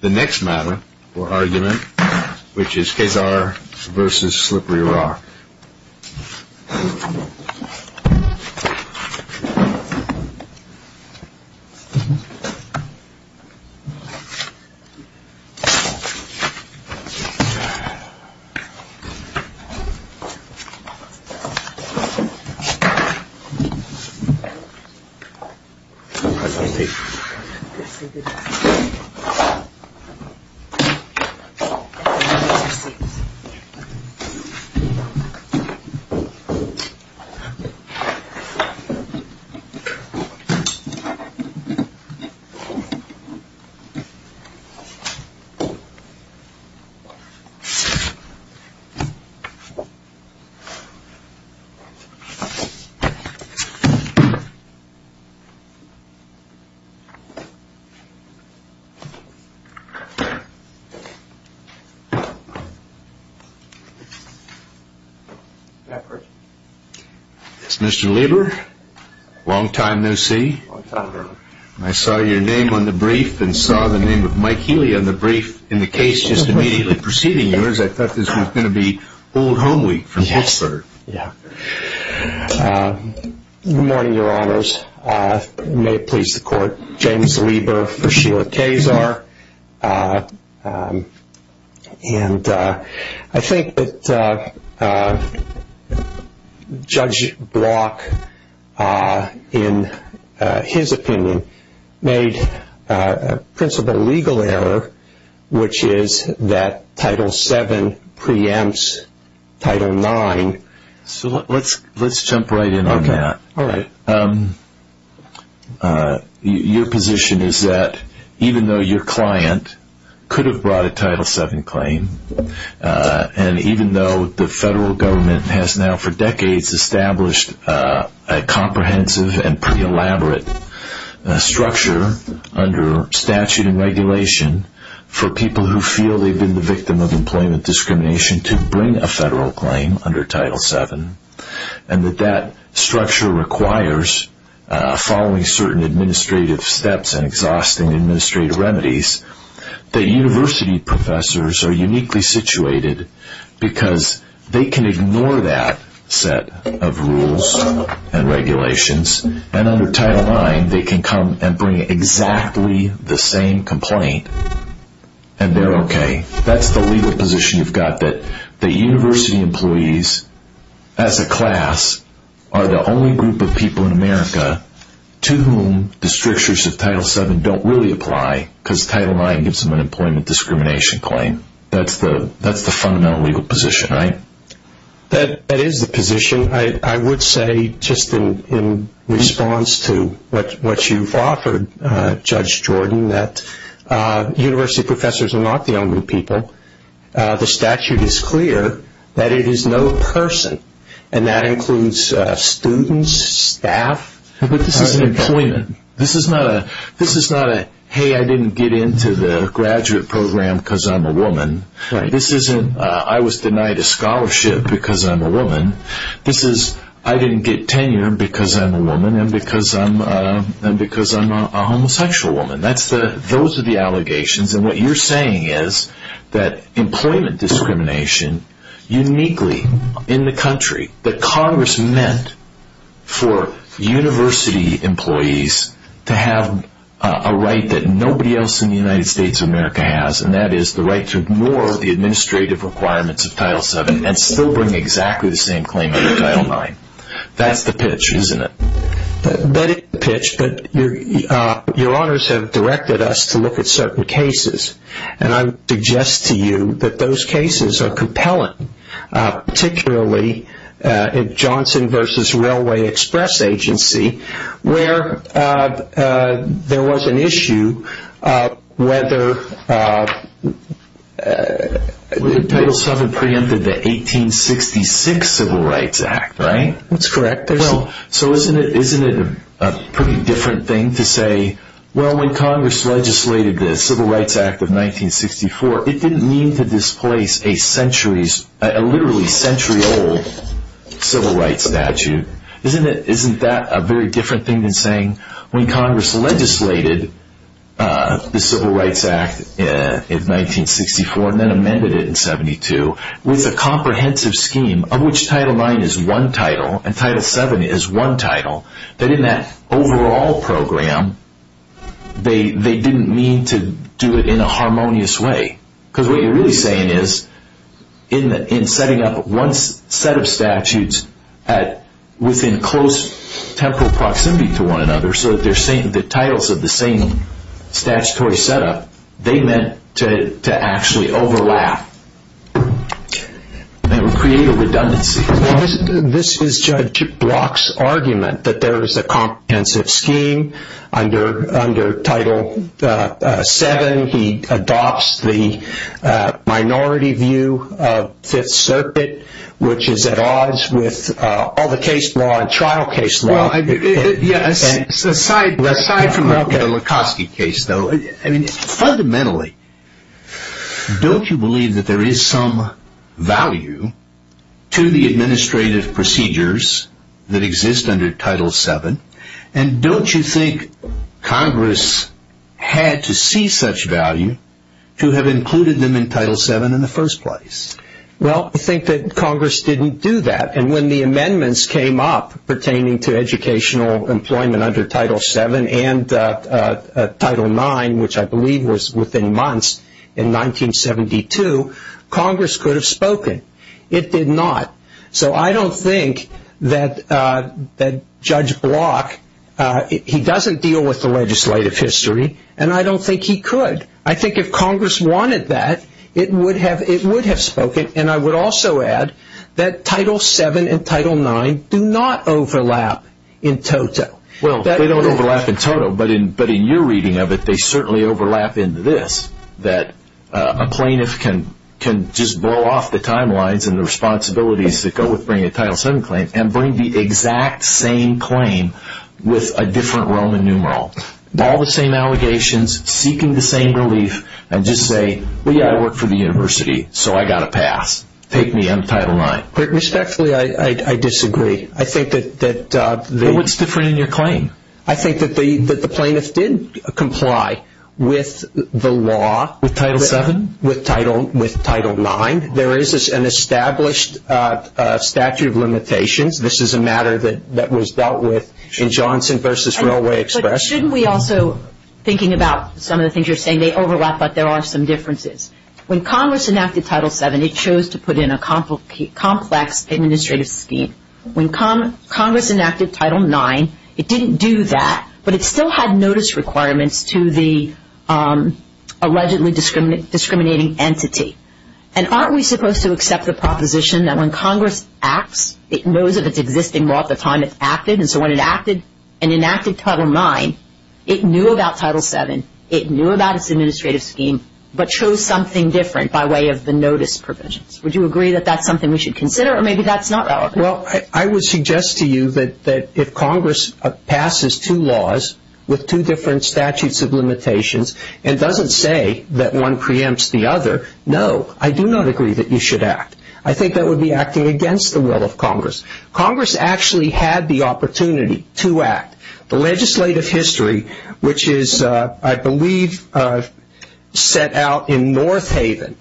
The next matter for argument, which is Kazar v. Slippery Rock. Kazar v. Slippery Rock Mr. Lieber, long time no see. I saw your name on the brief and saw the name of Mike Healy on the brief in the case just immediately preceding yours. I thought this was going to be old home week from Pittsburgh. Good morning, your honors. May it please the court. James Lieber v. Sheila Kazar. I think that Judge Block, in his opinion, made a principal legal error, which is that Title VII preempts Title IX. Let's jump right in on that. Your position is that even though your client could have brought a Title VII claim, and even though the federal government has now for decades established a comprehensive and pre-elaborate structure under statute and regulation for people who feel they've been the victim of employment discrimination to bring a federal claim under Title VII, and that that structure requires, following certain administrative steps and exhausting administrative remedies, that university professors are uniquely situated because they can ignore that set of rules and regulations, and under Title IX they can come and bring exactly the same complaint, and they're okay. That's the legal position you've got, that university employees as a class are the only group of people in America to whom the strictures of Title VII don't really apply because Title IX gives them an employment discrimination claim. That's the fundamental legal position, right? That is the position. I would say just in response to what you've offered, Judge Jordan, that university professors are not the only people. The statute is clear that it is no person, and that includes students, staff. But this isn't employment. This is not a, hey, I didn't get into the graduate program because I'm a woman. I was denied a scholarship because I'm a woman. This is I didn't get tenure because I'm a woman and because I'm a homosexual woman. Those are the allegations, and what you're saying is that employment discrimination uniquely in the country, that Congress meant for university employees to have a right that nobody else in the United States of America has, and that is the right to ignore the administrative requirements of Title VII and still bring exactly the same claim under Title IX. That's the pitch, isn't it? That is the pitch, but your honors have directed us to look at certain cases, and I would suggest to you that those cases are compelling, particularly Johnson v. Railway Express Agency, where there was an issue whether Title VII preempted the 1866 Civil Rights Act, right? That's correct. So isn't it a pretty different thing to say, well, when Congress legislated the Civil Rights Act of 1964, it didn't mean to displace a literally century-old Civil Rights statute. Isn't that a very different thing than saying when Congress legislated the Civil Rights Act of 1964 and then amended it in 1972 with a comprehensive scheme of which Title IX is one title and Title VII is one title, that in that overall program, they didn't mean to do it in a harmonious way? Because what you're really saying is, in setting up one set of statutes within close temporal proximity to one another so that the titles of the same statutory setup, they meant to actually overlap and create a redundancy. This is Judge Block's argument that there is a comprehensive scheme under Title VII. He adopts the minority view of Fifth Circuit, which is at odds with all the case law and trial case law. Aside from the Likosky case, though, fundamentally, don't you believe that there is some value to the administrative procedures that exist under Title VII? And don't you think Congress had to see such value to have included them in Title VII in the first place? Well, I think that Congress didn't do that. And when the amendments came up pertaining to educational employment under Title VII and Title IX, which I believe was within months in 1972, Congress could have spoken. It did not. So I don't think that Judge Block, he doesn't deal with the legislative history, and I don't think he could. I think if Congress wanted that, it would have spoken. And I would also add that Title VII and Title IX do not overlap in toto. Well, they don't overlap in toto, but in your reading of it, they certainly overlap into this, that a plaintiff can just blow off the timelines and the responsibilities that go with bringing a Title VII claim and bring the exact same claim with a different Roman numeral. All the same allegations, seeking the same relief, and just say, well, yeah, I work for the university, so I got a pass. Take me on Title IX. Respectfully, I disagree. Well, what's different in your claim? I think that the plaintiff did comply with the law. With Title VII? With Title IX. There is an established statute of limitations. This is a matter that was dealt with in Johnson v. Railway Express. But shouldn't we also, thinking about some of the things you're saying, they overlap, but there are some differences. When Congress enacted Title VII, it chose to put in a complex administrative scheme. When Congress enacted Title IX, it didn't do that, but it still had notice requirements to the allegedly discriminating entity. And aren't we supposed to accept the proposition that when Congress acts, it knows of its existing law at the time it's acted? And so when it acted and enacted Title IX, it knew about Title VII. It knew about its administrative scheme, but chose something different by way of the notice provisions. Would you agree that that's something we should consider, or maybe that's not relevant? Well, I would suggest to you that if Congress passes two laws with two different statutes of limitations and doesn't say that one preempts the other, no, I do not agree that you should act. I think that would be acting against the will of Congress. Congress actually had the opportunity to act. The legislative history, which is, I believe, set out in North Haven,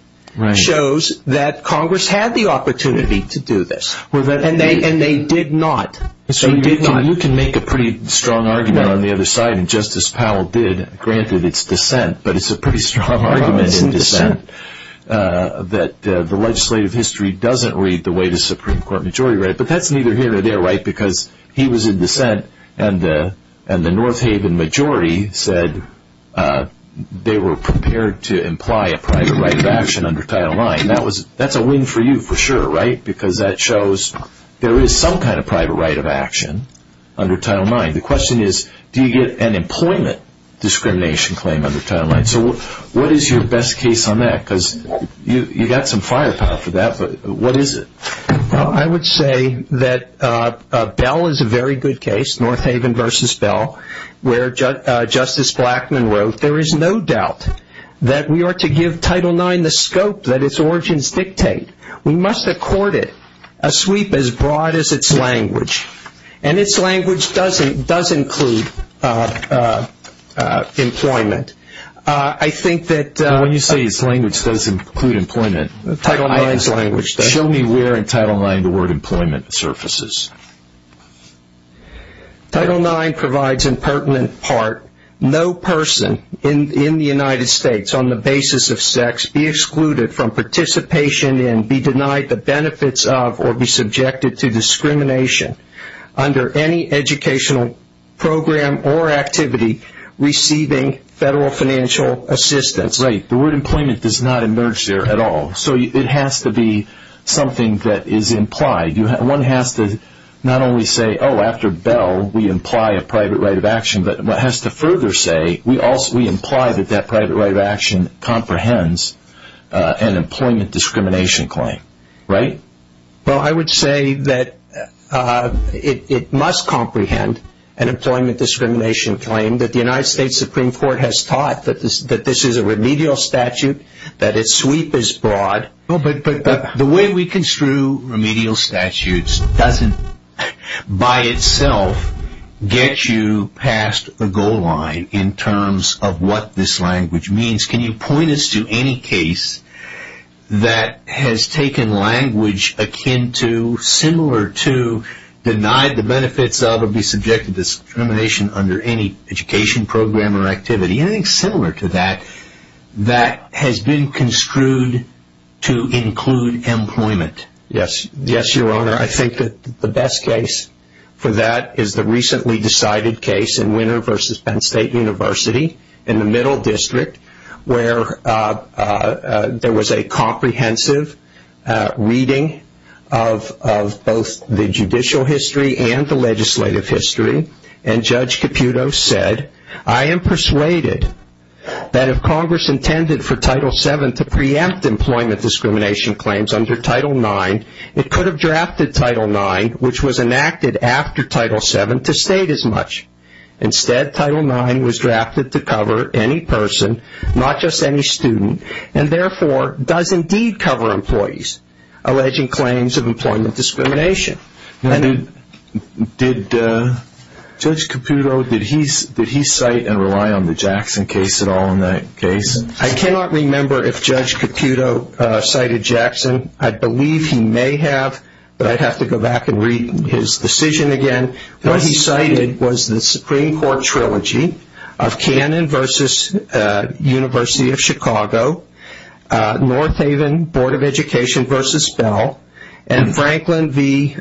shows that Congress had the opportunity to do this, and they did not. So you can make a pretty strong argument on the other side, and Justice Powell did. Granted, it's dissent, but it's a pretty strong argument in dissent that the legislative history doesn't read the way the Supreme Court majority read it. But that's neither here nor there, right, because he was in dissent, and the North Haven majority said they were prepared to imply a private right of action under Title IX. That's a win for you for sure, right, because that shows there is some kind of private right of action under Title IX. The question is, do you get an employment discrimination claim under Title IX? So what is your best case on that? Because you got some firepower for that, but what is it? Well, I would say that Bell is a very good case, North Haven versus Bell, where Justice Blackmun wrote, there is no doubt that we are to give Title IX the scope that its origins dictate. We must accord it a sweep as broad as its language, and its language does include employment. I think that – When you say its language does include employment – Title IX's language does. Show me where in Title IX the word employment surfaces. Title IX provides in pertinent part, no person in the United States, on the basis of sex, be excluded from participation in, be denied the benefits of, or be subjected to discrimination under any educational program or activity receiving federal financial assistance. That's right. The word employment does not emerge there at all. So it has to be something that is implied. One has to not only say, oh, after Bell, we imply a private right of action, but has to further say, we imply that that private right of action comprehends an employment discrimination claim. Right? Well, I would say that it must comprehend an employment discrimination claim, that the United States Supreme Court has taught that this is a remedial statute, that its sweep is broad. But the way we construe remedial statutes doesn't by itself get you past the goal line in terms of what this language means. Can you point us to any case that has taken language akin to, similar to, denied the benefits of, or be subjected to discrimination under any education program or activity, anything similar to that, that has been construed to include employment? Yes. Yes, Your Honor. I think that the best case for that is the recently decided case in Winner v. Penn State University, in the Middle District, where there was a comprehensive reading of both the judicial history and the legislative history, and Judge Caputo said, I am persuaded that if Congress intended for Title VII to preempt employment discrimination claims under Title IX, it could have drafted Title IX, which was enacted after Title VII, to state as much. Instead, Title IX was drafted to cover any person, not just any student, and therefore does indeed cover employees alleging claims of employment discrimination. Judge Caputo, did he cite and rely on the Jackson case at all in that case? I cannot remember if Judge Caputo cited Jackson. I believe he may have, but I would have to go back and read his decision again. What he cited was the Supreme Court trilogy of Cannon v. University of Chicago, North Haven Board of Education v. Bell, and Franklin v.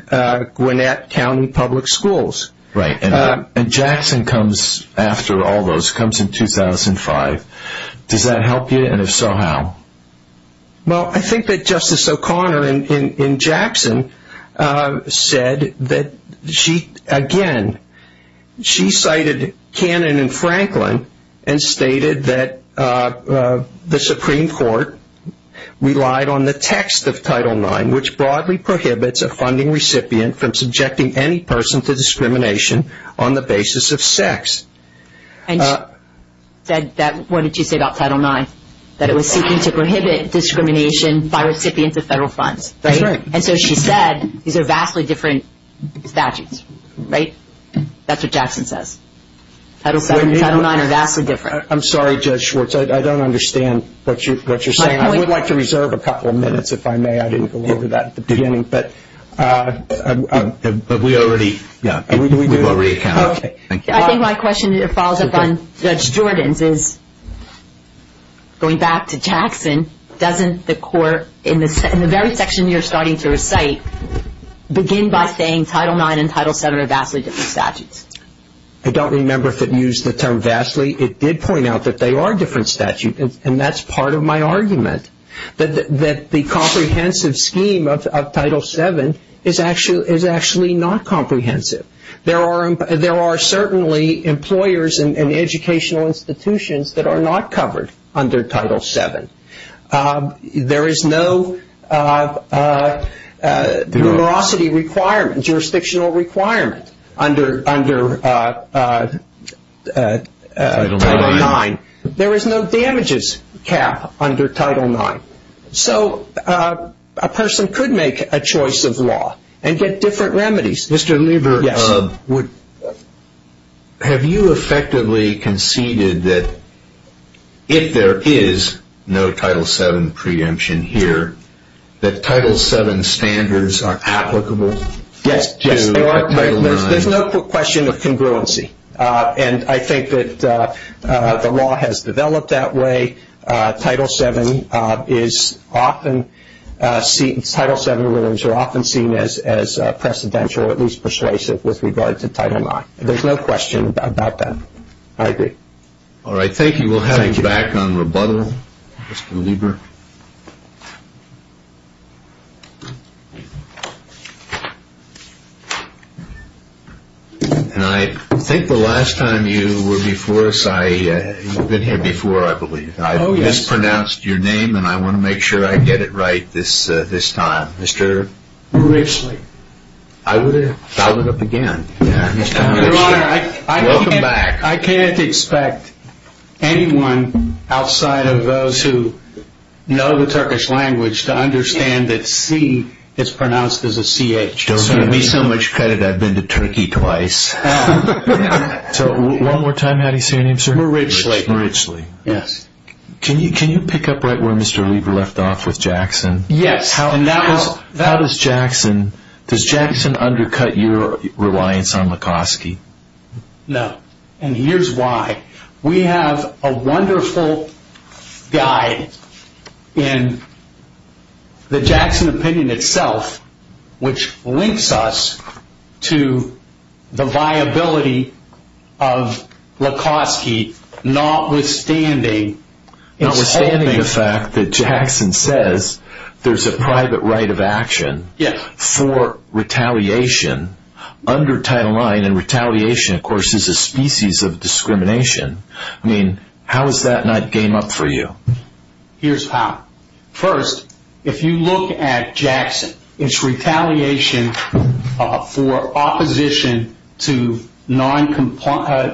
Gwinnett County Public Schools. Right, and Jackson comes after all those, comes in 2005. Does that help you, and if so, how? Well, I think that Justice O'Connor in Jackson said that she, again, she cited Cannon and Franklin and stated that the Supreme Court relied on the text of Title IX, which broadly prohibits a funding recipient from subjecting any person to discrimination on the basis of sex. And she said that, what did she say about Title IX? That it was seeking to prohibit discrimination by recipients of federal funds, right? That's right. And so she said these are vastly different statutes, right? That's what Jackson says. Title VII and Title IX are vastly different. I'm sorry, Judge Schwartz. I don't understand what you're saying. I would like to reserve a couple of minutes, if I may. I didn't go over that at the beginning. But we already, yeah, we will recount. Okay. I think my question follows up on Judge Jordan's is, going back to Jackson, doesn't the court, in the very section you're starting to recite, begin by saying Title IX and Title VII are vastly different statutes? I don't remember if it used the term vastly. It did point out that they are different statutes, and that's part of my argument, that the comprehensive scheme of Title VII is actually not comprehensive. There are certainly employers and educational institutions that are not covered under Title VII. There is no numerosity requirement, jurisdictional requirement under Title IX. There is no damages cap under Title IX. So a person could make a choice of law and get different remedies. Mr. Lieber, have you effectively conceded that if there is no Title VII preemption here, that Title VII standards are applicable to Title IX? Yes, there's no question of congruency, and I think that the law has developed that way. Title VII remedies are often seen as precedential, at least persuasive, with regard to Title IX. There's no question about that. I agree. All right, thank you. We'll have you back on rebuttal, Mr. Lieber. And I think the last time you were before us, you've been here before, I believe. I mispronounced your name, and I want to make sure I get it right this time. Mr. Grishley. I would have followed it up again. Your Honor, I can't expect anyone outside of those who have been here before to know the Turkish language to understand that C is pronounced as a C-H. Don't give me so much credit. I've been to Turkey twice. So one more time, how do you say your name, sir? Mr. Grishley. Mr. Grishley. Yes. Can you pick up right where Mr. Lieber left off with Jackson? Yes. How does Jackson undercut your reliance on Likoski? No, and here's why. We have a wonderful guide in the Jackson opinion itself, which links us to the viability of Likoski, notwithstanding the fact that Jackson says there's a private right of action for retaliation under Title IX, and retaliation, of course, is a species of discrimination. I mean, how is that not game up for you? Here's how. First, if you look at Jackson, it's retaliation for opposition to noncompliance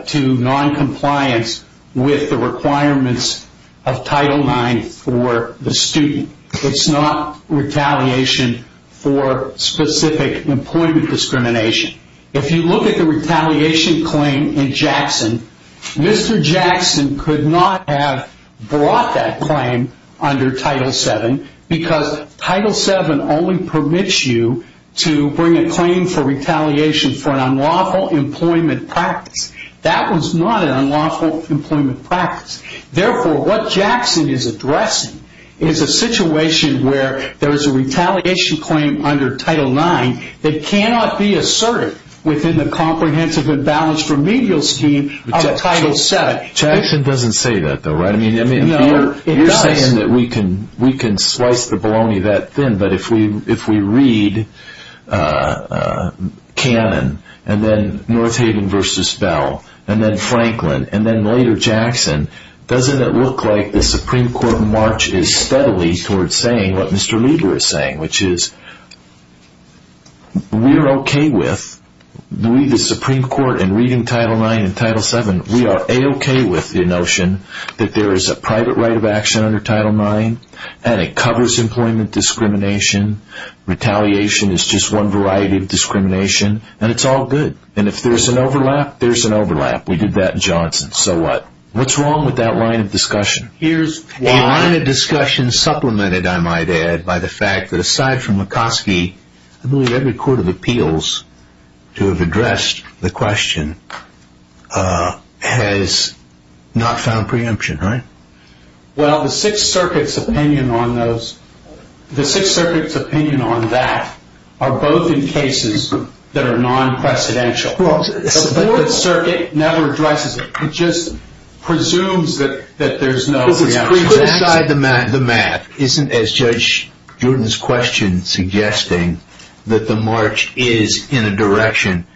with the requirements of Title IX for the student. It's not retaliation for specific employment discrimination. If you look at the retaliation claim in Jackson, Mr. Jackson could not have brought that claim under Title VII because Title VII only permits you to bring a claim for retaliation for an unlawful employment practice. That was not an unlawful employment practice. Therefore, what Jackson is addressing is a situation where there is a retaliation claim under Title IX that cannot be asserted within the comprehensive and balanced remedial scheme of Title VII. Jackson doesn't say that, though, right? No, it does. You're saying that we can slice the bologna that thin, but if we read Cannon, and then Northaven v. Bell, and then Franklin, and then later Jackson, doesn't it look like the Supreme Court marches steadily towards saying what Mr. Lieber is saying, which is we're okay with the Supreme Court in reading Title IX and Title VII. We are a-okay with the notion that there is a private right of action under Title IX, and it covers employment discrimination. Retaliation is just one variety of discrimination, and it's all good. And if there's an overlap, there's an overlap. We did that in Johnson. So what? What's wrong with that line of discussion? A line of discussion supplemented, I might add, by the fact that aside from Murkowski, I believe every court of appeals to have addressed the question has not found preemption, right? Well, the Sixth Circuit's opinion on that are both in cases that are non-precedential. But the Fourth Circuit never addresses it. It just presumes that there's no preemption. Put aside the math. Isn't, as Judge Jordan's question suggesting, that the march is in a direction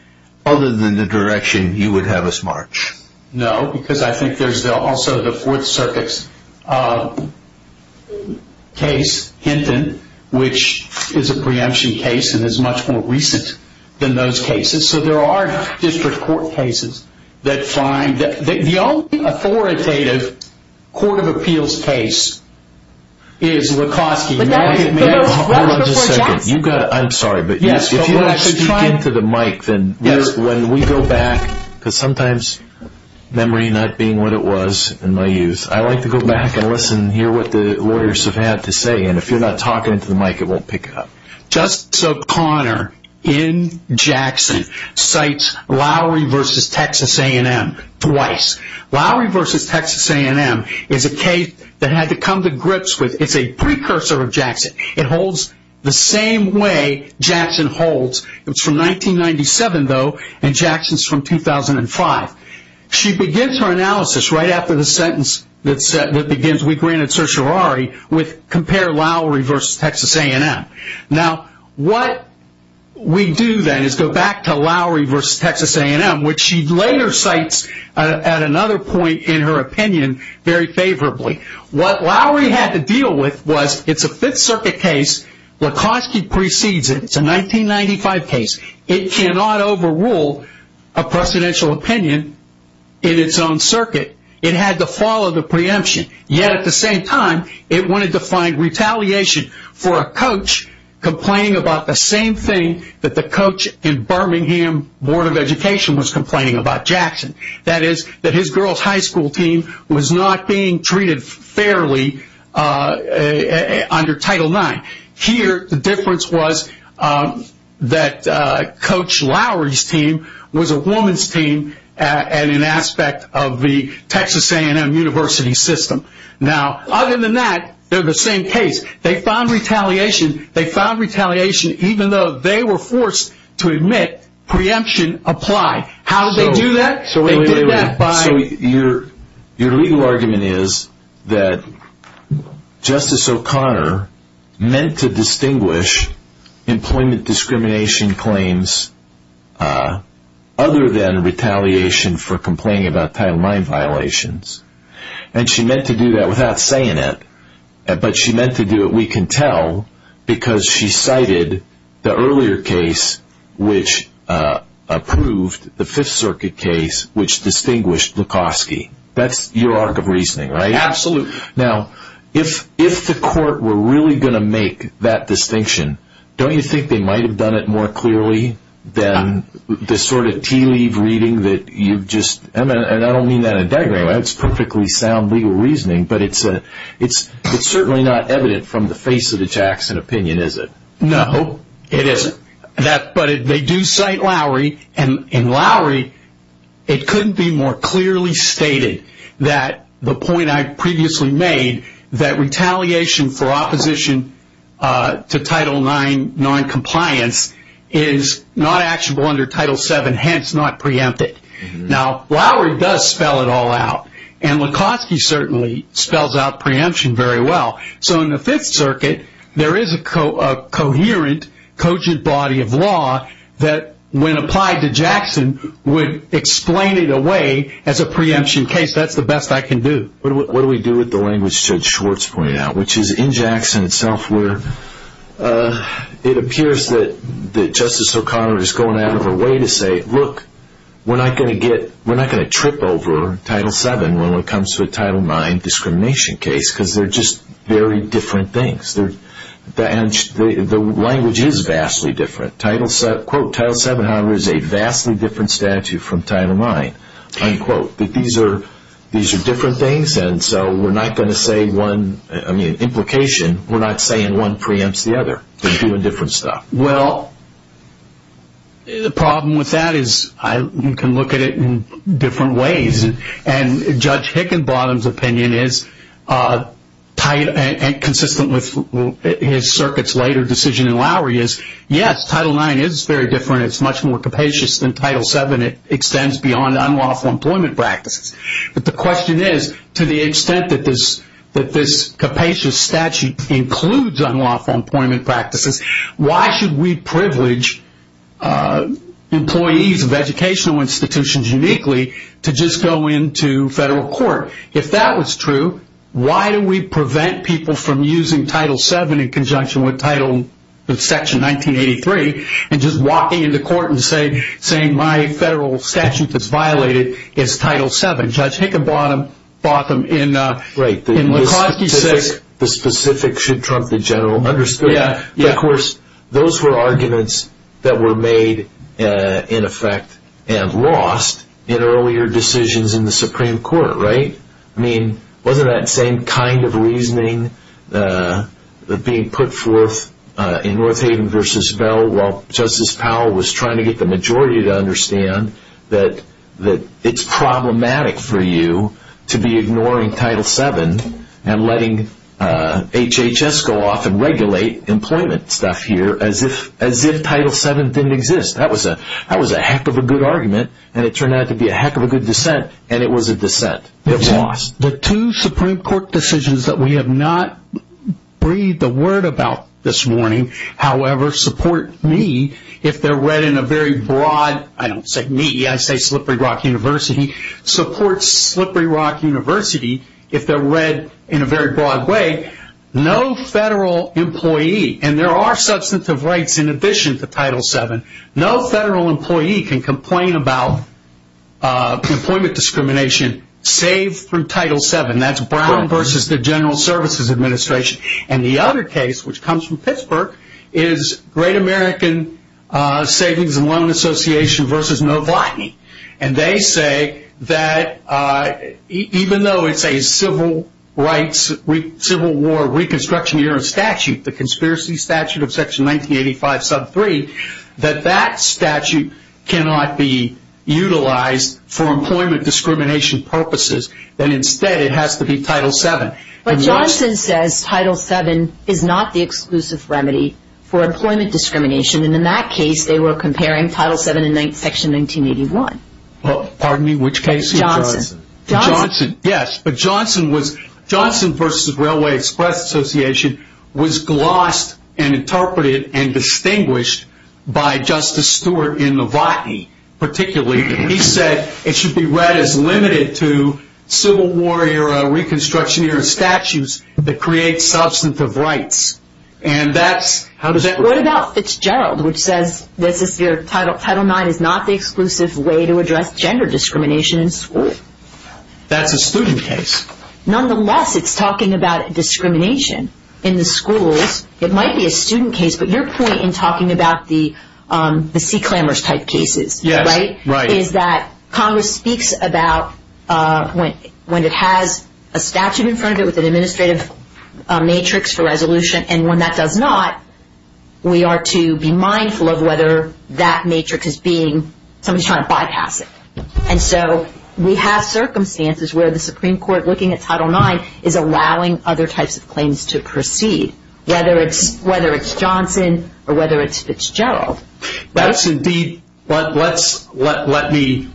other than the direction you would have us march? No, because I think there's also the Fourth Circuit's case, Hinton, which is a preemption case and is much more recent than those cases. So there are district court cases that find that. The only authoritative court of appeals case is Lukoski. But that was before Jackson. Hold on just a second. I'm sorry, but if you don't speak into the mic, then when we go back, because sometimes memory not being what it was in my youth, I like to go back and listen and hear what the lawyers have had to say. And if you're not talking into the mic, it won't pick up. Justice O'Connor in Jackson cites Lowry v. Texas A&M twice. Lowry v. Texas A&M is a case that had to come to grips with. It's a precursor of Jackson. It holds the same way Jackson holds. It's from 1997, though, and Jackson's from 2005. She begins her analysis right after the sentence that begins, with compare Lowry v. Texas A&M. Now, what we do then is go back to Lowry v. Texas A&M, which she later cites at another point in her opinion very favorably. What Lowry had to deal with was it's a Fifth Circuit case. Lukoski precedes it. It's a 1995 case. It cannot overrule a presidential opinion in its own circuit. It had to follow the preemption. Yet, at the same time, it wanted to find retaliation for a coach complaining about the same thing that the coach in Birmingham Board of Education was complaining about Jackson. That is, that his girl's high school team was not being treated fairly under Title IX. Here, the difference was that Coach Lowry's team was a woman's team and an aspect of the Texas A&M University system. Now, other than that, they're the same case. They found retaliation. They found retaliation even though they were forced to admit preemption applied. How did they do that? They did that by- So, your legal argument is that Justice O'Connor meant to distinguish employment discrimination claims other than retaliation for complaining about Title IX violations. And she meant to do that without saying it. But she meant to do it, we can tell, because she cited the earlier case which approved the Fifth Circuit case which distinguished Lukoski. That's your arc of reasoning, right? Absolutely. Now, if the court were really going to make that distinction, don't you think they might have done it more clearly than the sort of tea-leave reading that you've just- and I don't mean that in a degrading way, that's perfectly sound legal reasoning, but it's certainly not evident from the face of the Jackson opinion, is it? No, it isn't. But they do cite Lowry, and in Lowry, it couldn't be more clearly stated that the point I previously made, that retaliation for opposition to Title IX noncompliance is not actionable under Title VII, hence not preempted. Now, Lowry does spell it all out, and Lukoski certainly spells out preemption very well. So, in the Fifth Circuit, there is a coherent, cogent body of law that, when applied to Jackson, would explain it away as a preemption case. That's the best I can do. What do we do with the language Judge Schwartz pointed out, which is in Jackson itself where it appears that Justice O'Connor is going out of her way to say, look, we're not going to trip over Title VII when it comes to a Title IX discrimination case because they're just very different things. The language is vastly different. Quote, Title VII honor is a vastly different statute from Title IX. Unquote. These are different things, and so we're not going to say one, I mean, implication, we're not saying one preempts the other. They're doing different stuff. Well, the problem with that is you can look at it in different ways, and Judge Hickenbottom's opinion is tied and consistent with his circuit's later decision in Lowry is, yes, Title IX is very different. It's much more capacious than Title VII. It extends beyond unlawful employment practices. But the question is, to the extent that this capacious statute includes unlawful employment practices, why should we privilege employees of educational institutions uniquely to just go into federal court? If that was true, why do we prevent people from using Title VII in conjunction with Section 1983 and just walking into court and saying, my federal statute that's violated is Title VII? Judge Hickenbottom bought them in Likosky 6. I don't think the specifics should trump the general understanding. Of course, those were arguments that were made in effect and lost in earlier decisions in the Supreme Court, right? I mean, wasn't that same kind of reasoning being put forth in Northaven v. Bell while Justice Powell was trying to get the majority to understand that it's problematic for you to be ignoring Title VII and letting HHS go off and regulate employment stuff here as if Title VII didn't exist? That was a heck of a good argument, and it turned out to be a heck of a good dissent, and it was a dissent. It was lost. The two Supreme Court decisions that we have not breathed a word about this morning, however, support me if they're read in a very broad, I don't say me, I say Slippery Rock University, supports Slippery Rock University if they're read in a very broad way. No federal employee, and there are substantive rights in addition to Title VII, no federal employee can complain about employment discrimination save through Title VII. That's Brown v. the General Services Administration. And the other case, which comes from Pittsburgh, is Great American Savings and Loan Association v. Novotny. And they say that even though it's a Civil Rights Civil War Reconstruction Year of Statute, the Conspiracy Statute of Section 1985, Sub 3, that that statute cannot be utilized for employment discrimination purposes, that instead it has to be Title VII. But Johnson says Title VII is not the exclusive remedy for employment discrimination, and in that case they were comparing Title VII and Section 1981. Pardon me? Which case? Johnson. Johnson, yes. But Johnson v. Railway Express Association was glossed and interpreted and distinguished by Justice Stewart in Novotny particularly. He said it should be read as limited to Civil War-era, Reconstruction-era statutes that create substantive rights. What about Fitzgerald, which says Title IX is not the exclusive way to address gender discrimination in school? That's a student case. Nonetheless, it's talking about discrimination in the schools. It might be a student case, but your point in talking about the Sea Clambers type cases is that Congress speaks about when it has a statute in front of it with an administrative matrix for resolution, and when that does not, we are to be mindful of whether that matrix is being, somebody's trying to bypass it. And so we have circumstances where the Supreme Court, looking at Title IX, is allowing other types of claims to proceed, whether it's Johnson or whether it's Fitzgerald. That's indeed, let me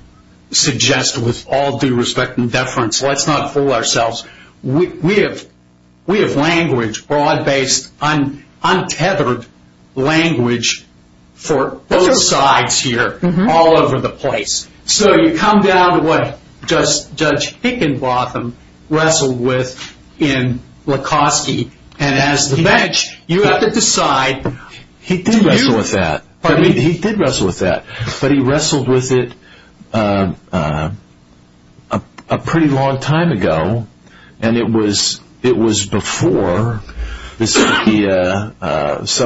suggest with all due respect and deference, let's not fool ourselves. We have language, broad-based, untethered language for both sides here all over the place. So you come down to what Judge Hickenbotham wrestled with in Likoski, and as the bench, you have to decide. He did wrestle with that, but he wrestled with it a pretty long time ago, and it was before some of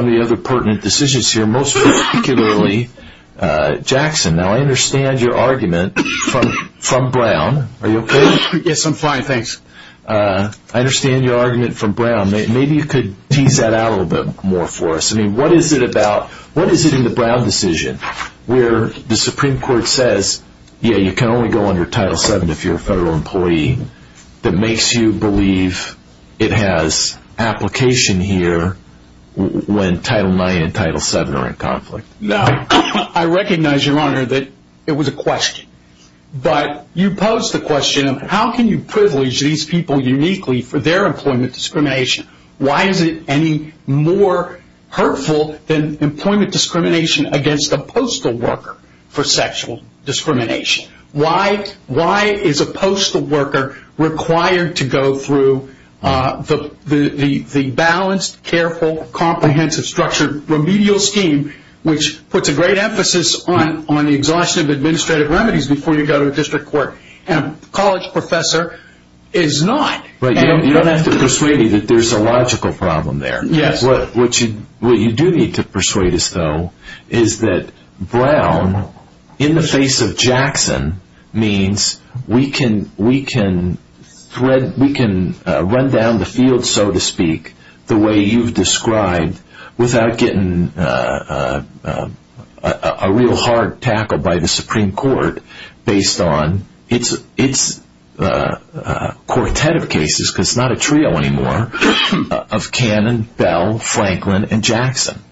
the other pertinent decisions here, most particularly Jackson. Now I understand your argument from Brown. Are you okay? Yes, I'm fine, thanks. I understand your argument from Brown. Maybe you could tease that out a little bit more for us. I mean, what is it about, what is it in the Brown decision where the Supreme Court says, yeah, you can only go under Title VII if you're a federal employee, that makes you believe it has application here when Title IX and Title VII are in conflict? No, I recognize, Your Honor, that it was a question. But you pose the question of how can you privilege these people uniquely for their employment discrimination? Why is it any more hurtful than employment discrimination against a postal worker for sexual discrimination? Why is a postal worker required to go through the balanced, careful, comprehensive, structured remedial scheme, which puts a great emphasis on the exhaustion of administrative remedies before you go to a district court, and a college professor is not? You don't have to persuade me that there's a logical problem there. Yes. What you do need to persuade us, though, is that Brown, in the face of Jackson, means we can run down the field, so to speak, the way you've described, without getting a real hard tackle by the Supreme Court based on its quartet of cases, because it's not a trio anymore, of Cannon, Bell, Franklin, and Jackson.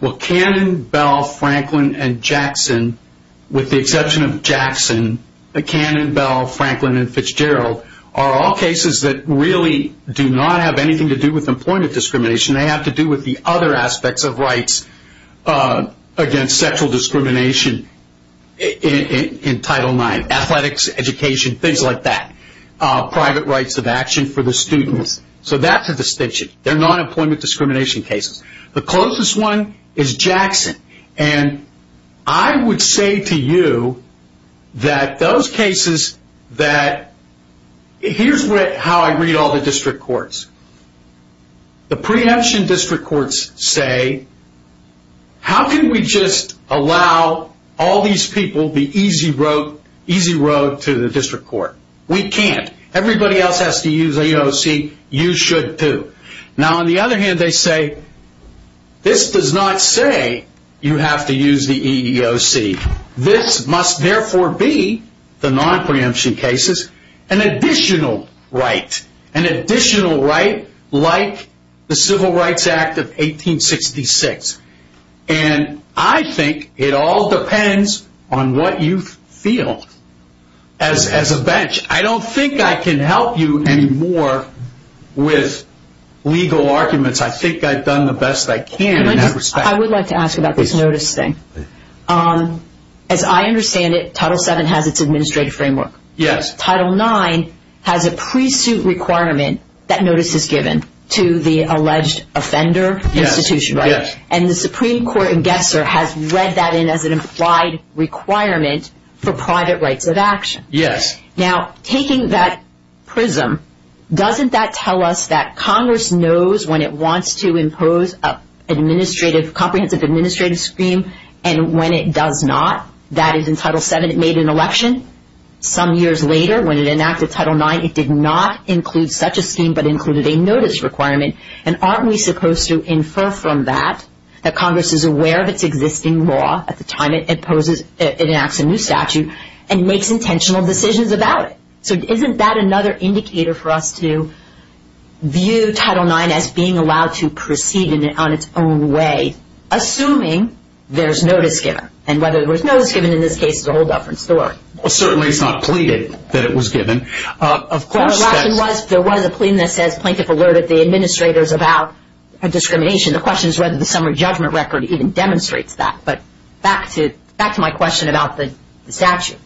Well, Cannon, Bell, Franklin, and Jackson, with the exception of Jackson, Cannon, Bell, Franklin, and Fitzgerald are all cases that really do not have anything to do with employment discrimination. They have to do with the other aspects of rights against sexual discrimination in Title IX, athletics, education, things like that, private rights of action for the students. So that's a distinction. They're not employment discrimination cases. The closest one is Jackson. And I would say to you that those cases that... Here's how I read all the district courts. The preemption district courts say, how can we just allow all these people the easy road to the district court? We can't. Everybody else has to use AOC. You should, too. Now, on the other hand, they say, this does not say you have to use the EEOC. This must therefore be, the non-preemption cases, an additional right, an additional right like the Civil Rights Act of 1866. And I think it all depends on what you feel as a bench. I don't think I can help you anymore with legal arguments. I think I've done the best I can in that respect. I would like to ask about this notice thing. As I understand it, Title VII has its administrative framework. Yes. Title IX has a pre-suit requirement that notice is given to the alleged offender institution, right? Yes. And the Supreme Court in Gesser has read that in as an implied requirement for private rights of action. Yes. Now, taking that prism, doesn't that tell us that Congress knows when it wants to impose a comprehensive administrative scheme and when it does not? That is, in Title VII it made an election. Some years later, when it enacted Title IX, it did not include such a scheme but included a notice requirement. And aren't we supposed to infer from that that Congress is aware of its existing law at the time it enacts a new statute and makes intentional decisions about it? So isn't that another indicator for us to view Title IX as being allowed to proceed on its own way, assuming there's notice given? And whether there's notice given in this case is a whole different story. Well, certainly it's not pleaded that it was given. Of course, there was a plea that says, Plaintiff alerted the administrators about discrimination. The question is whether the summary judgment record even demonstrates that. But back to my question about the statute.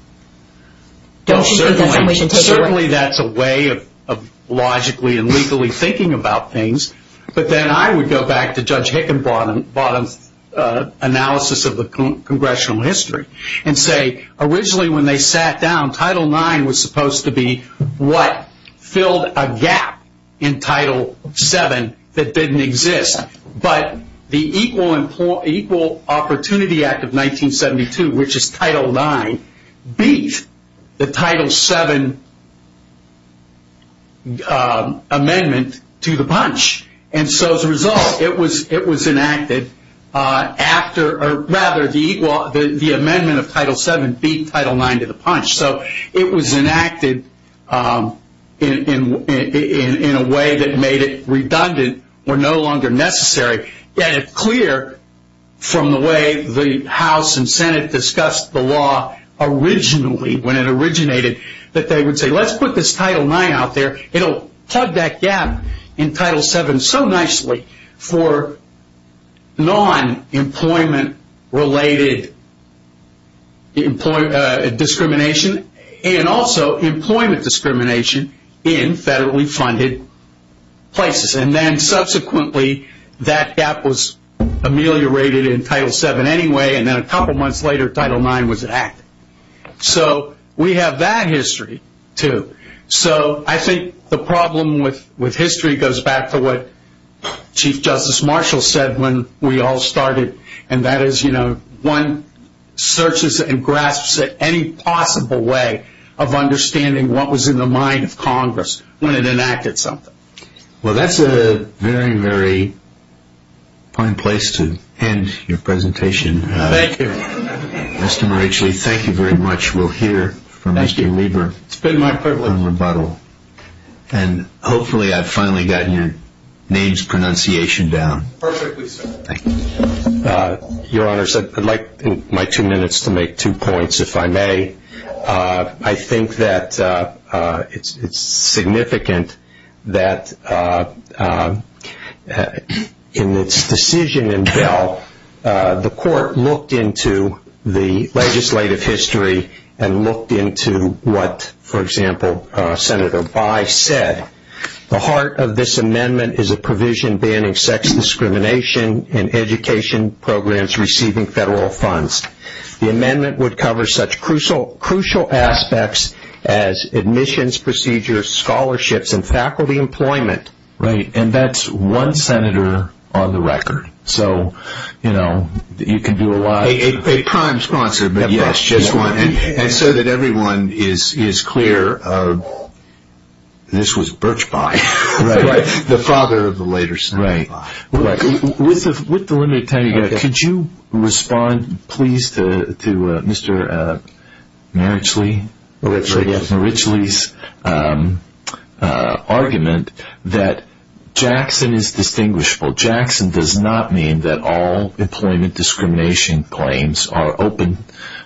Certainly that's a way of logically and legally thinking about things. But then I would go back to Judge Hickenbottom's analysis of the congressional history and say originally when they sat down, Title IX was supposed to be what? Filled a gap in Title VII that didn't exist. But the Equal Opportunity Act of 1972, which is Title IX, beat the Title VII amendment to the punch. And so as a result, it was enacted after or rather the amendment of Title VII beat Title IX to the punch. So it was enacted in a way that made it redundant or no longer necessary. Yet it's clear from the way the House and Senate discussed the law originally, when it originated, that they would say let's put this Title IX out there. It will plug that gap in Title VII so nicely for non-employment related discrimination and also employment discrimination in federally funded places. And then subsequently that gap was ameliorated in Title VII anyway and then a couple of months later Title IX was enacted. So we have that history too. So I think the problem with history goes back to what Chief Justice Marshall said when we all started and that is, you know, one searches and grasps at any possible way of understanding what was in the mind of Congress when it enacted something. Well, that's a very, very fine place to end your presentation. Thank you. Mr. Marachli, thank you very much. We'll hear from Mr. Lieber in rebuttal. And hopefully I've finally gotten your name's pronunciation down. Perfectly so. Thank you. Your Honors, I'd like my two minutes to make two points, if I may. I think that it's significant that in its decision in Bell, the Court looked into the legislative history and looked into what, for example, Senator Bye said. The heart of this amendment is a provision banning sex discrimination in education programs receiving federal funds. The amendment would cover such crucial aspects as admissions procedures, scholarships, and faculty employment. Right. And that's one senator on the record. So, you know, you can do a lot. A prime sponsor, but yes, just one. And so that everyone is clear, this was Birch Bye, the father of the later Senator Bye. Right. With the limited time you've got, could you respond please to Mr. Marachli's argument that Jackson is distinguishable. Jackson does not mean that all employment discrimination claims are open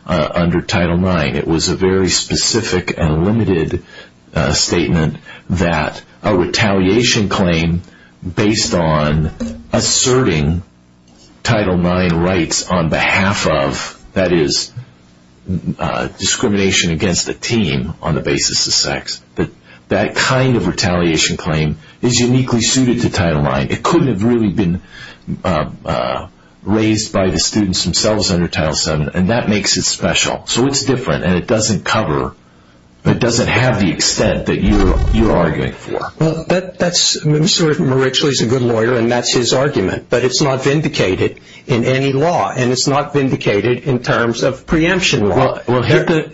under Title IX. It was a very specific and limited statement that a retaliation claim based on asserting Title IX rights on behalf of, that is, discrimination against a team on the basis of sex, that that kind of retaliation claim is uniquely suited to Title IX. It couldn't have really been raised by the students themselves under Title VII, and that makes it special. So it's different, and it doesn't cover, it doesn't have the extent that you're arguing for. Well, that's, Mr. Marachli's a good lawyer, and that's his argument. But it's not vindicated in any law, and it's not vindicated in terms of preemption law. Well, you have to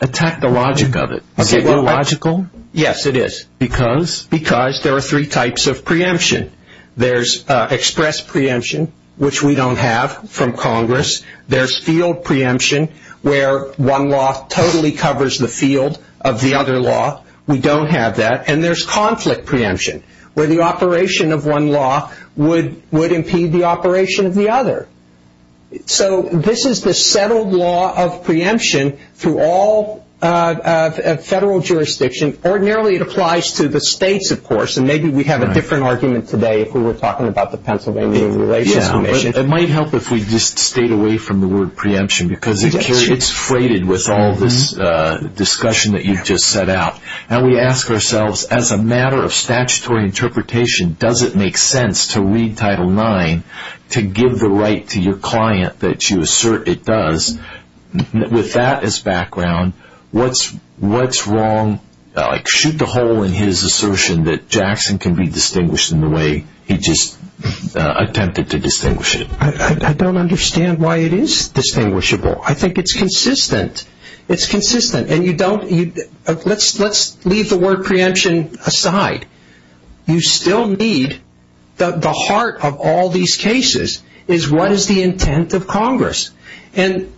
attack the logic of it. Is it illogical? Yes, it is. Because? Because there are three types of preemption. There's express preemption, which we don't have from Congress. There's field preemption, where one law totally covers the field of the other law. We don't have that. And there's conflict preemption, where the operation of one law would impede the operation of the other. So this is the settled law of preemption through all federal jurisdiction. Ordinarily, it applies to the states, of course, and maybe we have a different argument today if we were talking about the Pennsylvania Relations Commission. It might help if we just stayed away from the word preemption, because it's freighted with all this discussion that you've just set out. And we ask ourselves, as a matter of statutory interpretation, does it make sense to read Title IX to give the right to your client that you assert it does? With that as background, what's wrong? Shoot the hole in his assertion that Jackson can be distinguished in the way he just attempted to distinguish it. I don't understand why it is distinguishable. I think it's consistent. It's consistent. Let's leave the word preemption aside. You still need the heart of all these cases is what is the intent of Congress. And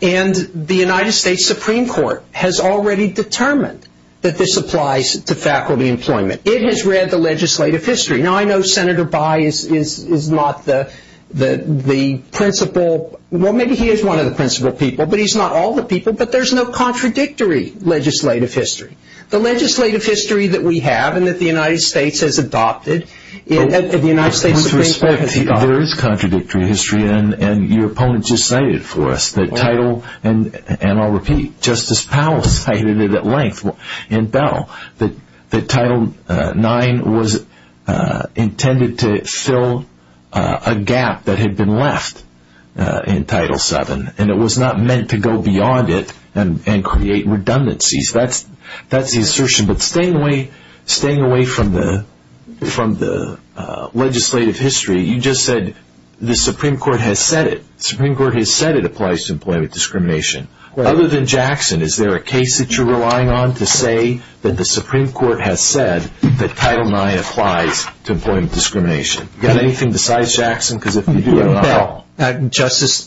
the United States Supreme Court has already determined that this applies to faculty employment. It has read the legislative history. Now, I know Senator Bayh is not the principal. Well, maybe he is one of the principal people, but he's not all the people. But there's no contradictory legislative history. The legislative history that we have and that the United States has adopted, the United States Supreme Court has adopted. There is contradictory history, and your opponent just cited it for us. And I'll repeat. Justice Powell cited it at length in Bell that Title IX was intended to fill a gap that had been left in Title VII, and it was not meant to go beyond it and create redundancies. That's the assertion. But staying away from the legislative history, you just said the Supreme Court has said it. The Supreme Court has said it applies to employment discrimination. Other than Jackson, is there a case that you're relying on to say that the Supreme Court has said that Title IX applies to employment discrimination? Got anything besides Jackson? Justice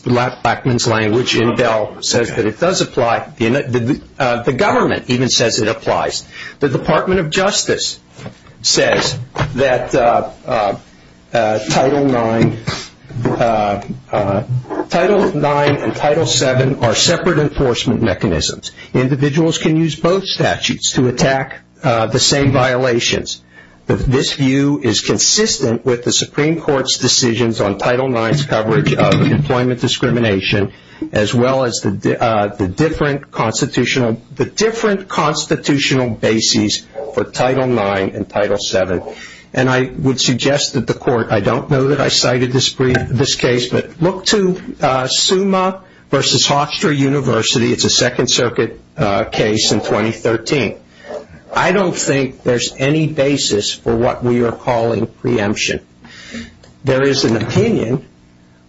Blackmun's language in Bell says that it does apply. The government even says it applies. The Department of Justice says that Title IX and Title VII are separate enforcement mechanisms. Individuals can use both statutes to attack the same violations. But this view is consistent with the Supreme Court's decisions on Title IX's coverage of employment discrimination, as well as the different constitutional bases for Title IX and Title VII. And I would suggest that the court, I don't know that I cited this case, but look to Summa v. Hofstra University. It's a Second Circuit case in 2013. I don't think there's any basis for what we are calling preemption. There is an opinion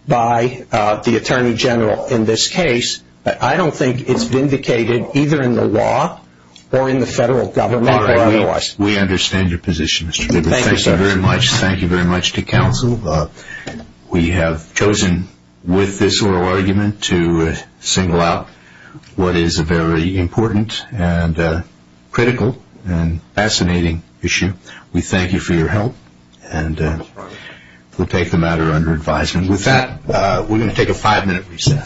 by the Attorney General in this case, but I don't think it's vindicated either in the law or in the federal government or otherwise. All right. We understand your position, Mr. Lieber. Thank you, sir. Thank you very much to counsel. We have chosen with this oral argument to single out what is a very important and critical and fascinating issue. We thank you for your help, and we'll take the matter under advisement. With that, we're going to take a five-minute recess.